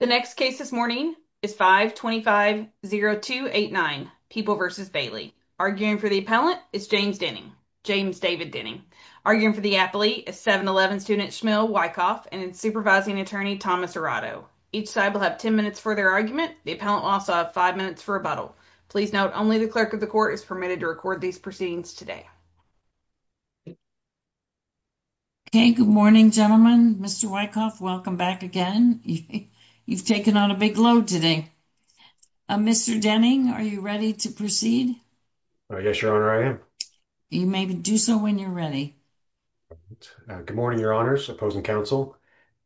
The next case this morning is 525-0289, People v. Bailey. Arguing for the appellant is James Denning, James David Denning. Arguing for the appellee is 711 student Shmuel Wyckoff and supervising attorney Thomas Arado. Each side will have 10 minutes for their argument. The appellant will also have five minutes for rebuttal. Please note only the clerk of the court is permitted to record these proceedings today. Okay, good morning gentlemen. Mr. Wyckoff, welcome back again. You've taken on a big load today. Mr. Denning, are you ready to proceed? Yes, your honor, I am. You may do so when you're ready. Good morning, your honors, opposing counsel.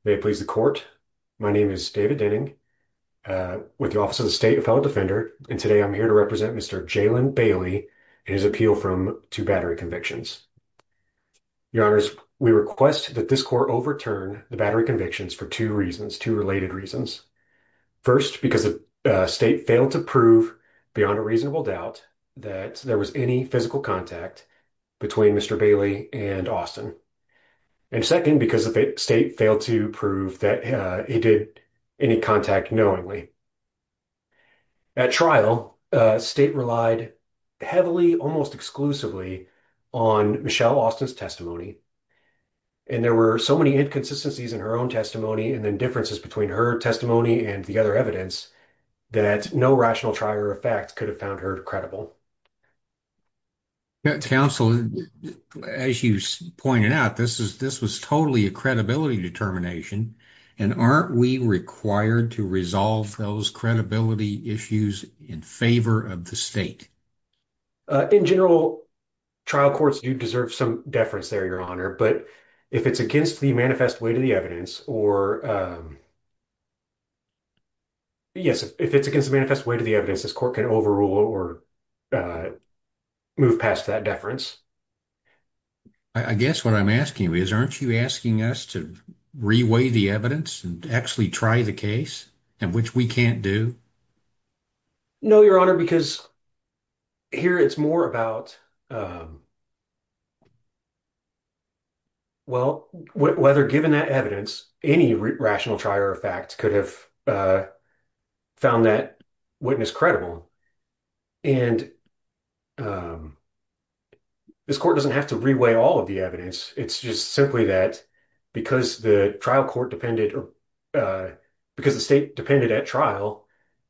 May it please the court, my name is David Denning with the Office of the State, a fellow defender, and today I'm here to represent Mr. Jaylen Bailey in his appeal from two battery convictions. Your honors, we request that this court overturn the battery convictions for two reasons, two related reasons. First, because the state failed to prove beyond a reasonable doubt that there was any physical contact between Mr. Bailey and Austin, and second, because the state failed to prove that he did any contact knowingly. At trial, state relied heavily, almost exclusively, on Michelle Austin's testimony and there were so many inconsistencies in her own testimony and then differences between her testimony and the other evidence that no rational trial or fact could have found her credible. Counsel, as you pointed out, this was totally a credibility determination and aren't we required to resolve those credibility issues in favor of the state? In general, trial courts do deserve some deference there, your honor, but if it's against the manifest weight of the evidence or yes, if it's against the manifest weight of the evidence, this court can overrule or move past that deference. I guess what I'm asking you is, aren't you asking us to reweigh the evidence and actually try the case, and which we can't do? No, your honor, because here it's more about, well, whether given that evidence, any rational trial or fact could have found that witness credible and this court doesn't have to reweigh all of the evidence. It's just simply that trial court depended or because the state depended at trial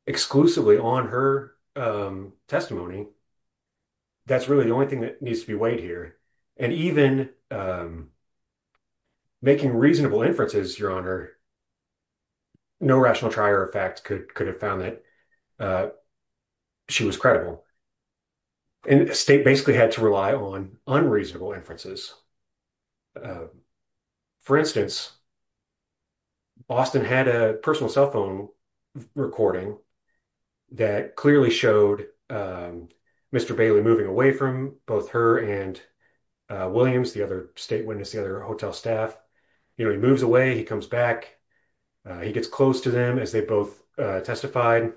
exclusively on her testimony. That's really the only thing that needs to be weighed here and even making reasonable inferences, your honor, no rational trial or fact could have found that she was credible and the state basically had to rely on unreasonable inferences. For instance, Austin had a personal cell phone recording that clearly showed Mr. Bailey moving away from both her and Williams, the other state witness, the other hotel staff. He moves away, he comes back, he gets close to them as they both testified,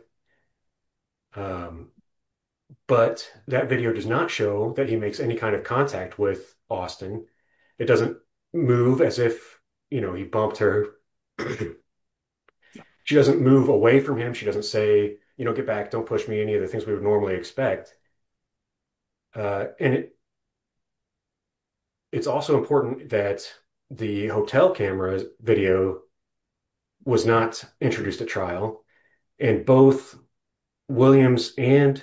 but that video does not show that he makes any kind of contact with Austin. It doesn't move as if he bumped her. She doesn't move away from him. She doesn't say, get back, don't push me, any of the things we would normally expect. It's also important that the hotel camera video was not introduced at trial and both Williams and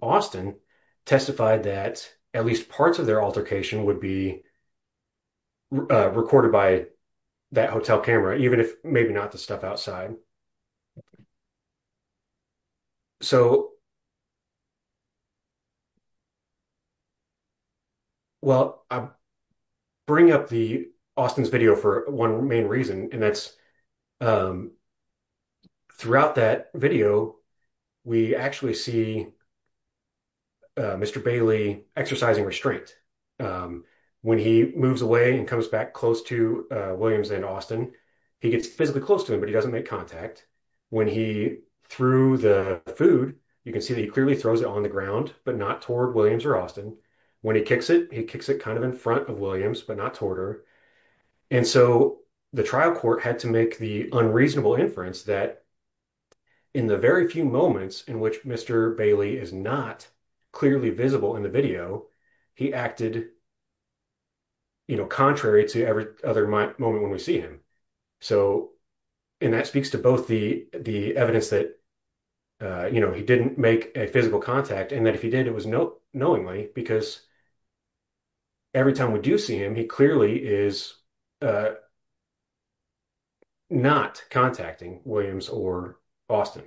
Austin testified that at least parts of their altercation would be recorded by that hotel camera, even if maybe not the stuff outside. So, well, I bring up the Austin's video for one main reason, and that's throughout that video, we actually see Mr. Bailey exercising restraint. When he moves away and comes back close to Williams and Austin, he gets physically close to him, but he doesn't make contact. When he threw the food, you can see that he clearly throws it on the ground, but not toward Williams or Austin. When he kicks it, he kicks it kind of in front of Williams, but not toward her. And so the trial court had to make the unreasonable inference that in the very few moments in which Mr. Bailey is not clearly visible in the video, he acted contrary to every other moment when we see him. So, and that speaks to both the evidence that he didn't make a physical contact and that if he did, it was knowingly because every time we do see him, he clearly is not contacting Williams or Austin.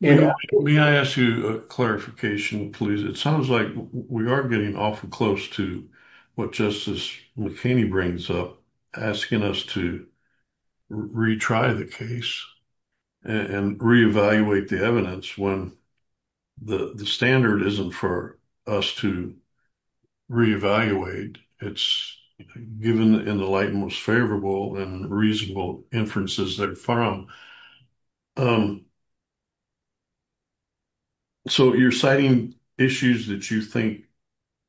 Yeah. May I ask you a clarification, please? It sounds like we are getting awful close to what Justice McKinney brings up, asking us to retry the case and reevaluate the evidence when the standard isn't for us to reevaluate. It's given in the light most favorable and reasonable inferences they've found. So you're citing issues that you think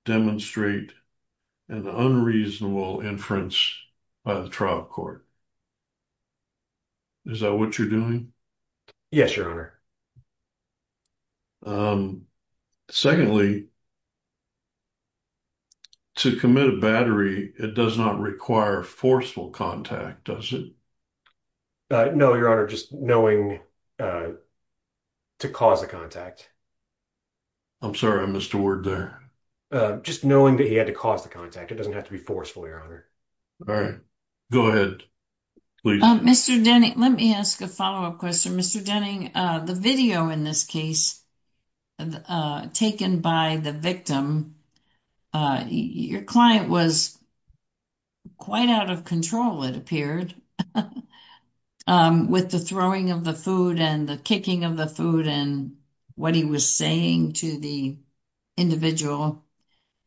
demonstrate an unreasonable inference by the trial court. Is that what you're doing? Yes, Your Honor. Secondly, to commit a battery, it does not require forceful contact, does it? No, Your Honor, just knowing to cause a contact. I'm sorry, I missed a word there. Just knowing that he had to cause the contact. It doesn't have to be forceful, Your Honor. All right. Go ahead, please. Mr. Denning, let me ask a follow-up question. Mr. Denning, the video in this case taken by the victim, your client was quite out of control, it appeared, with the throwing of the food and the kicking of the food and what he was saying to the individual.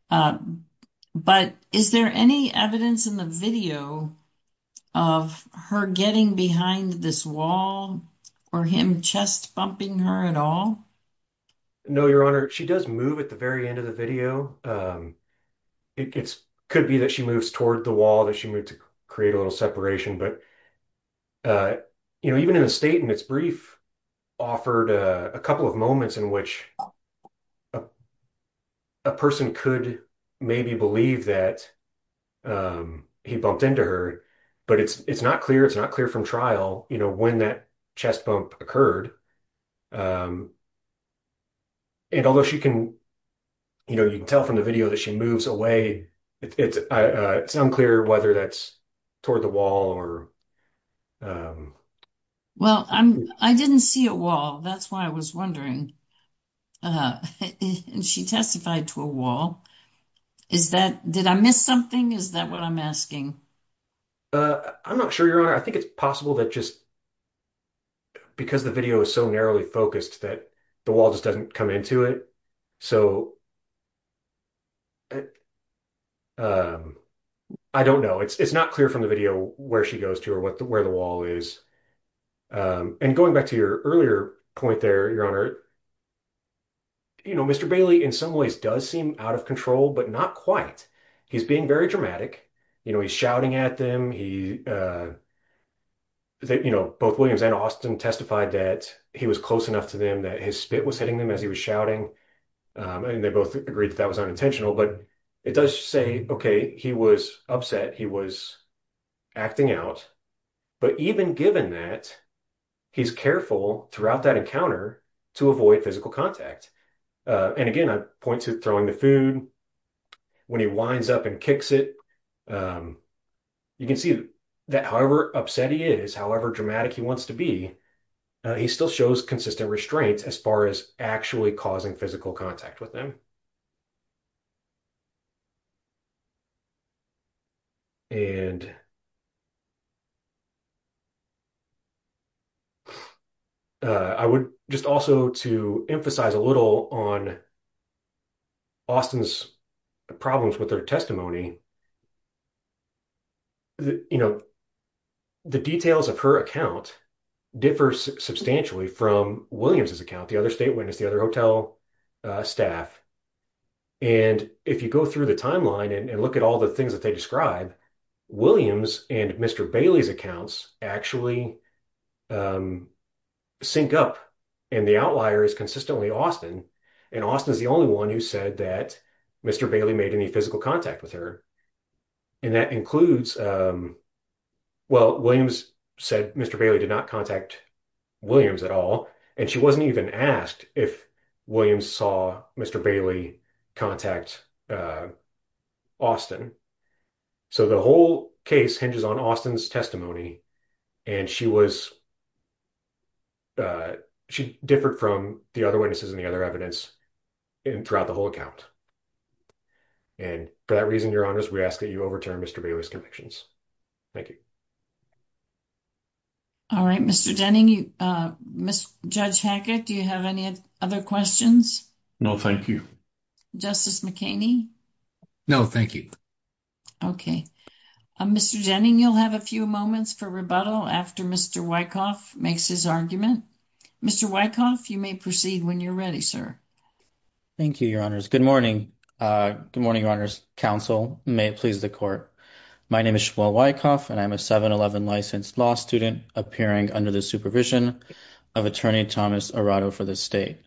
But is there any evidence in the video of her getting behind this wall or him chest bumping her at all? No, Your Honor. She does move at the very end of the video. It could be that she moves toward the wall, that she moved to create a little separation. But even in the statement, it's brief, offered a couple of moments in which a person could maybe believe that he bumped into her. But it's not clear, it's not clear from trial, when that chest bump occurred. And although you can tell from the video that she moves away, it's unclear whether that's toward the wall or... Well, I didn't see a wall. That's why I was wondering. She testified to a wall. Did I miss something? Is that what I'm asking? I'm not sure, Your Honor. I think it's possible that just because the video is so narrowly focused that the wall just doesn't come into it. So, I don't know. It's not clear from the video where she goes to or where the wall is. And going back to your earlier point there, Your Honor, Mr. Bailey, in some ways, does seem out of control, but not quite. He's being very dramatic. He's shouting at them. Both Williams and Austin testified that he was close enough to them that his spit was as he was shouting. And they both agreed that that was unintentional. But it does say, okay, he was upset. He was acting out. But even given that, he's careful throughout that encounter to avoid physical contact. And again, I point to throwing the food. When he winds up and kicks it, you can see that however upset he is, however dramatic he wants to be, he still shows consistent restraints as far as actually causing physical contact with them. And I would just also to emphasize a little on Austin's problems with their testimony, you know, the details of her account differs substantially from Williams's account, the other state witness, the other hotel staff. And if you go through the timeline and look at all the things that they describe, Williams and Mr. Bailey's accounts actually sync up. And the outlier is consistently Austin. And Austin is the only one who said that Bailey made any physical contact with her. And that includes, well, Williams said Mr. Bailey did not contact Williams at all. And she wasn't even asked if Williams saw Mr. Bailey contact Austin. So the whole case hinges on Austin's testimony. And she differed from the other evidence throughout the whole account. And for that reason, your honors, we ask that you overturn Mr. Bailey's convictions. Thank you. All right, Mr. Jenning, Judge Hackett, do you have any other questions? No, thank you. Justice McKinney? No, thank you. Okay. Mr. Jenning, you'll have a few moments for rebuttal after Mr. Wyckoff makes his argument. Mr. Wyckoff, you may proceed when you're ready, sir. Thank you, your honors. Good morning. Good morning, your honors. Counsel, may it please the court. My name is Shmuel Wyckoff, and I'm a 711 licensed law student appearing under the supervision of attorney Thomas Arado for the state.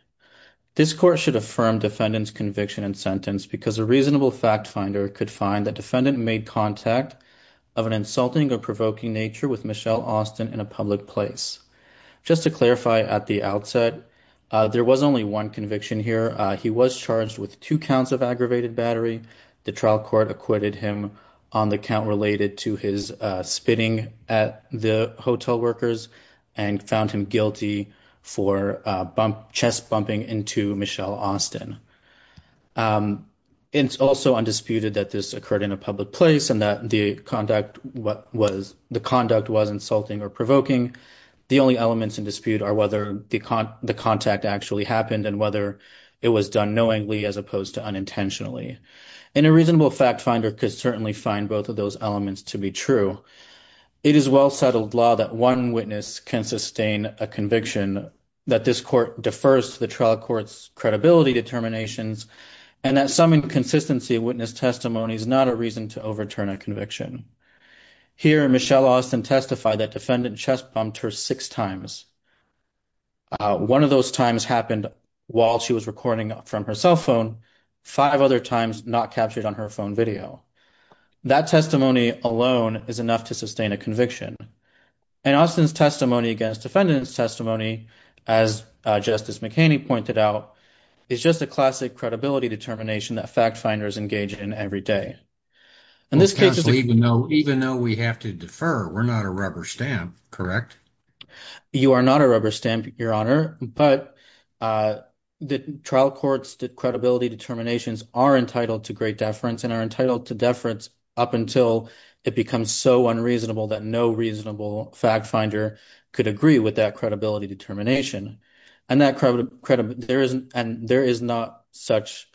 This court should affirm defendant's conviction and sentence because a reasonable fact finder could find that defendant made contact of an insulting or provoking nature with Michelle Austin in a public place. Just to clarify at the outset, there was only one conviction here. He was charged with two counts of aggravated battery. The trial court acquitted him on the count related to his spitting at the hotel workers and found him guilty for chest bumping into Michelle Austin. It's also undisputed that this occurred in a public place and that the conduct was insulting or provoking. The only elements in dispute are whether the contact actually happened and whether it was done knowingly as opposed to unintentionally. And a reasonable fact finder could certainly find both of those elements to be true. It is well-settled law that one witness can sustain a conviction, that this court defers to the trial court's credibility determinations, and that some inconsistency witness testimony is not a reason to overturn a conviction. Here Michelle Austin testified that defendant chest bumped her six times. One of those times happened while she was recording from her cell phone, five other times not captured on her phone video. That testimony alone is enough to sustain a conviction. And Austin's testimony against defendant's testimony, as Justice McHaney pointed out, is just a classic credibility determination that fact finders engage in every day. In this case, even though we have to defer, we're not a rubber stamp, correct? You are not a rubber stamp, your honor, but the trial court's credibility determinations are entitled to great deference and are entitled to deference up until it becomes so unreasonable that no reasonable fact finder could agree with that credibility determination. And there is not such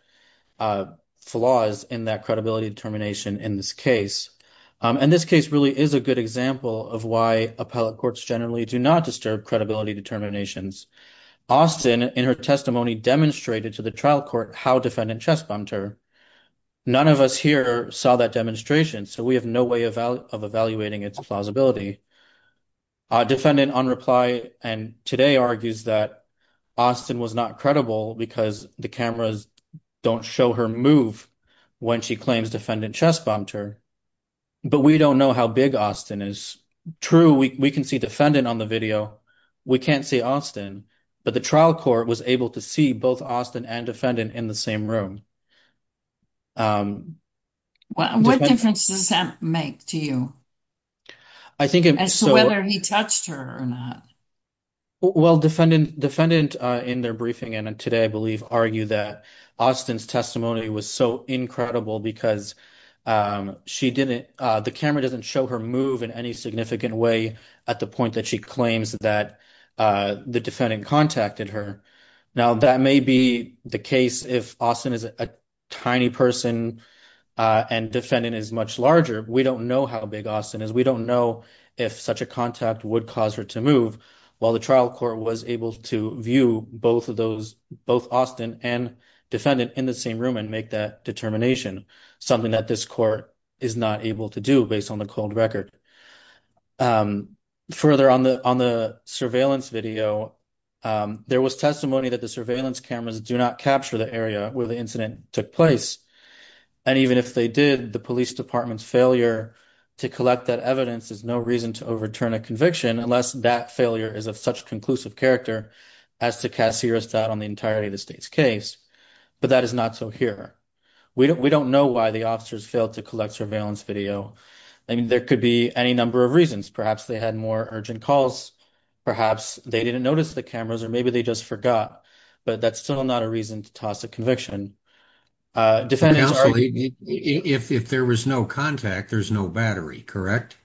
flaws in that credibility determination in this case. And this case really is a good example of why appellate courts generally do not disturb credibility determinations. Austin, in her testimony, demonstrated to the trial court how defendant chest bumped her. None of us here saw that demonstration, so we have no way of evaluating its plausibility. A defendant on reply and today argues that Austin was not credible because the cameras don't show her move when she claims defendant chest bumped her. But we don't know how big Austin is. True, we can see defendant on the video. We can't see Austin. But the trial court was able to see both Austin and defendant in the same room. What difference does that make to you? As to whether he touched her or not? Well, defendant in their briefing and today, I believe, argue that Austin's testimony was so incredible because the camera doesn't show her move in any significant way at the point that she claims that the defendant contacted her. Now, that may be the case if Austin is a tiny person and defendant is much larger. We don't know how big Austin is. We don't know if such a contact would cause her to move while the trial court was able to view both Austin and defendant in the same room and make that determination, something that this court is not able to do based on the cold record. Further, on the surveillance video, there was testimony that the surveillance cameras do not capture the area where the incident took place. And even if they did, the police department's failure to collect that evidence is no reason to overturn a conviction unless that failure is of such conclusive character as to cast serious doubt on the entirety of the state's case. But that is not so here. We don't know why the officers failed to collect surveillance video. There could be any number of reasons. Perhaps they had more urgent calls. Perhaps they didn't notice the cameras or maybe they just forgot. But that's still not a reason to toss a conviction. If there was no contact, there's no battery, correct?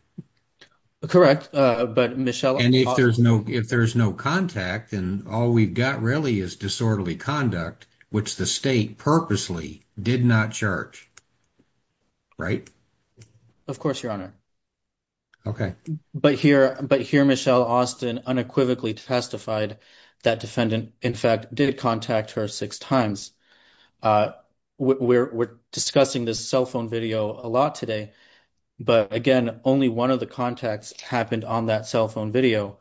Correct. But if there's no contact, then all we've got really is disorderly conduct, which the state purposely did not charge, right? Of course, Your Honor. Okay. But here Michelle Austin unequivocally testified that defendant, in fact, did contact her six times. We're discussing this cell phone video a lot today. But again, only one of the contacts happened on that cell phone video.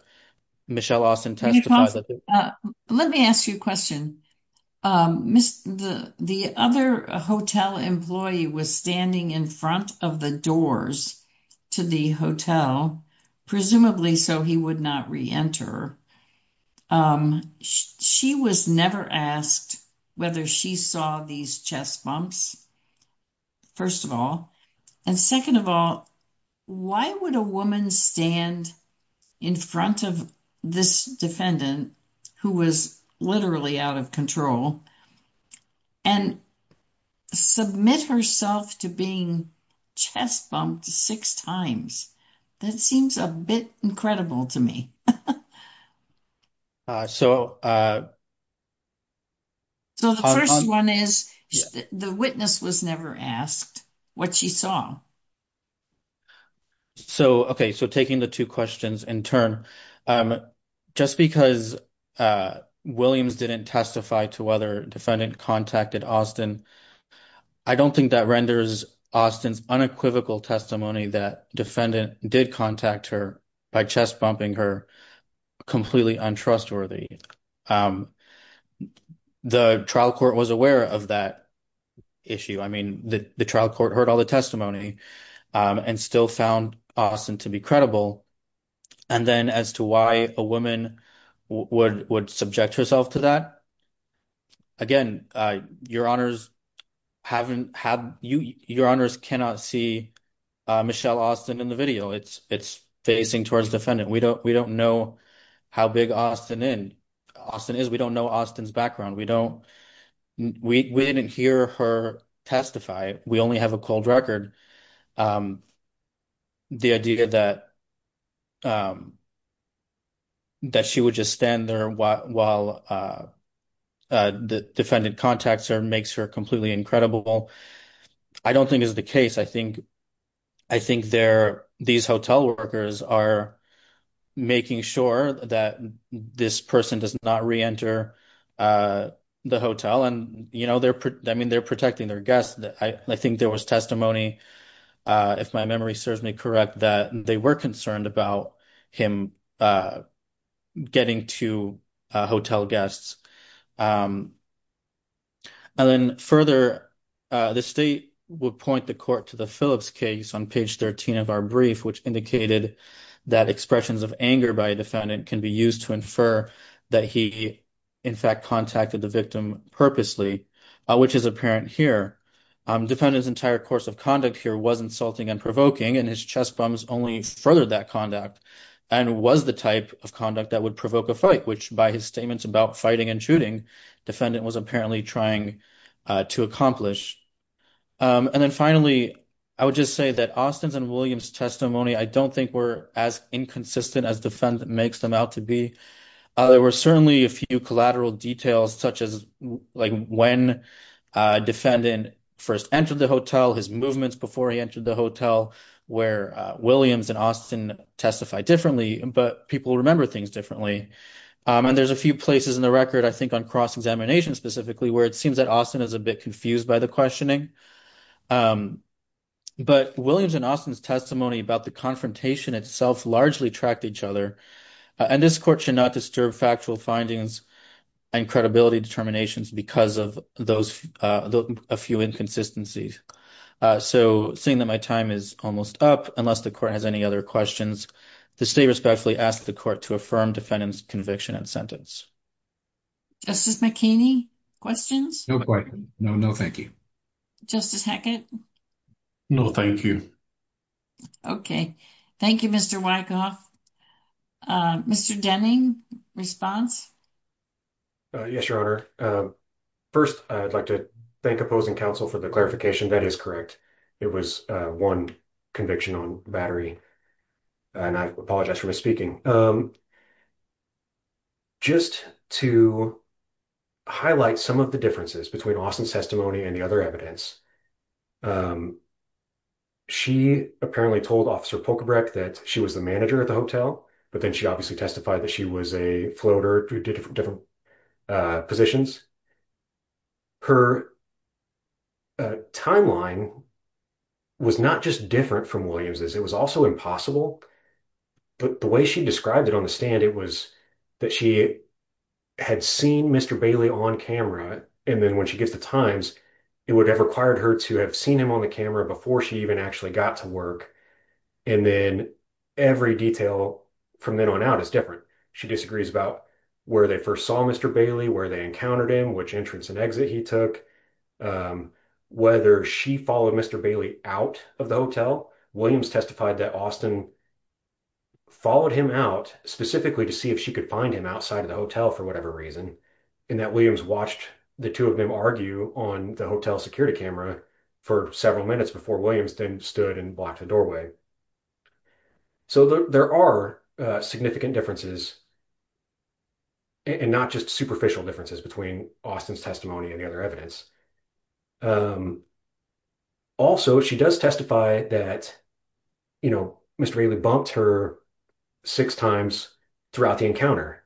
Michelle Austin testified that... Let me ask you a question. The other hotel employee was standing in front of the doors to the hotel, presumably so he would not reenter. She was never asked whether she saw these chest bumps, first of all. And second of all, why would a woman stand in front of this defendant, who was literally out of control, and submit herself to being chest bumped six times? That seems a bit incredible to me. So the first one is the witness was never asked what she saw. Okay. So taking the two questions in turn, just because Williams didn't testify to whether defendant contacted Austin, I don't think that renders Austin's unequivocal testimony that defendant did contact her by chest bumping her completely untrustworthy. The trial court was and still found Austin to be credible. And then as to why a woman would subject herself to that, again, your honors cannot see Michelle Austin in the video. It's facing towards defendant. We don't know how big Austin is. We don't know Austin's background. We didn't hear her testify. We only have a cold record. The idea that she would just stand there while the defendant contacts her makes her completely incredible. I don't think is the case. I think these hotel workers are making sure that this person does not reenter the hotel. And they're protecting their guests. I think there was testimony, if my memory serves me correct, that they were concerned about him getting to hotel guests. And then further, the state would point the court to the Phillips case on page 13 of our brief, which indicated that expressions of anger by defendant can be used to that he, in fact, contacted the victim purposely, which is apparent here. Defendant's entire course of conduct here was insulting and provoking. And his chest bumps only furthered that conduct and was the type of conduct that would provoke a fight, which by his statements about fighting and shooting, defendant was apparently trying to accomplish. And then finally, I would just say that Austin's and William's testimony, I don't think were as inconsistent as defendant makes them out to be. There were certainly a few collateral details, such as when defendant first entered the hotel, his movements before he entered the hotel, where Williams and Austin testified differently, but people remember things differently. And there's a few places in the record, I think on cross-examination specifically, where it seems that Austin is a bit confused by the questioning. But Williams and Austin's testimony about the confrontation itself largely tracked each other. And this court should not disturb factual findings and credibility determinations because of a few inconsistencies. So seeing that my time is almost up, unless the court has any other questions, the state respectfully asks the court to affirm defendant's conviction and sentence. Justice McKinney, questions? No, no, thank you. Justice Hackett? No, thank you. Okay. Thank you, Mr. Wyckoff. Mr. Denning, response? Yes, Your Honor. First, I'd like to thank opposing counsel for the clarification. That is correct. It was one conviction on battery, and I apologize for misspeaking. Just to highlight some of the differences between Austin's testimony and the other evidence, she apparently told Officer Polkabreck that she was the manager at the hotel, but then she obviously testified that she was a floater, did different positions. Her timeline was not just different from Williams's. It was also impossible. But the way she described it on the stand, it was that she had seen Mr. Bailey on camera, and then when she gets the times, it would have required her to have seen him on the camera before she even actually got to work. And then every detail from then on out is different. She disagrees about where they first saw Mr. Bailey, where they encountered him, which entrance and exit he took, whether she followed Mr. Bailey out of the hotel. Williams testified that Austin followed him out specifically to see if she could find him outside of the hotel for whatever reason, and that Williams watched the two of them argue on the hotel security camera for several minutes before Williams then stood and blocked the doorway. So there are significant differences and not just superficial differences between Austin's testimony and the other evidence. Also, she does testify that Mr. Bailey bumped her six times throughout the encounter,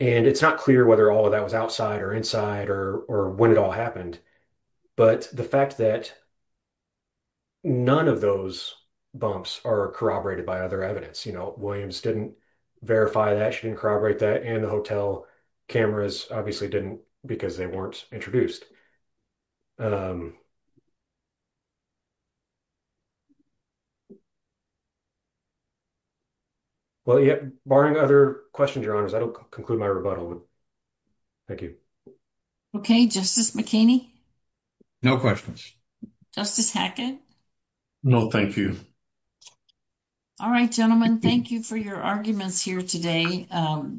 and it's not clear whether all of that was outside or inside or when it all happened. But the fact that none of those bumps are corroborated by other evidence, you know, Williams didn't verify that, she didn't corroborate that, and the hotel cameras obviously didn't because they weren't introduced. Well, yeah, barring other questions, your honors, I don't conclude my rebuttal. Thank you. Okay, Justice McKinney? No questions. Justice Hackett? No, thank you. All right, gentlemen, thank you for your arguments here today.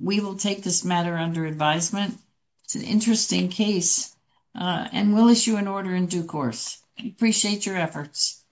We will take this matter under advisement. It's an interesting case, and we'll issue an order in due course. Appreciate your efforts.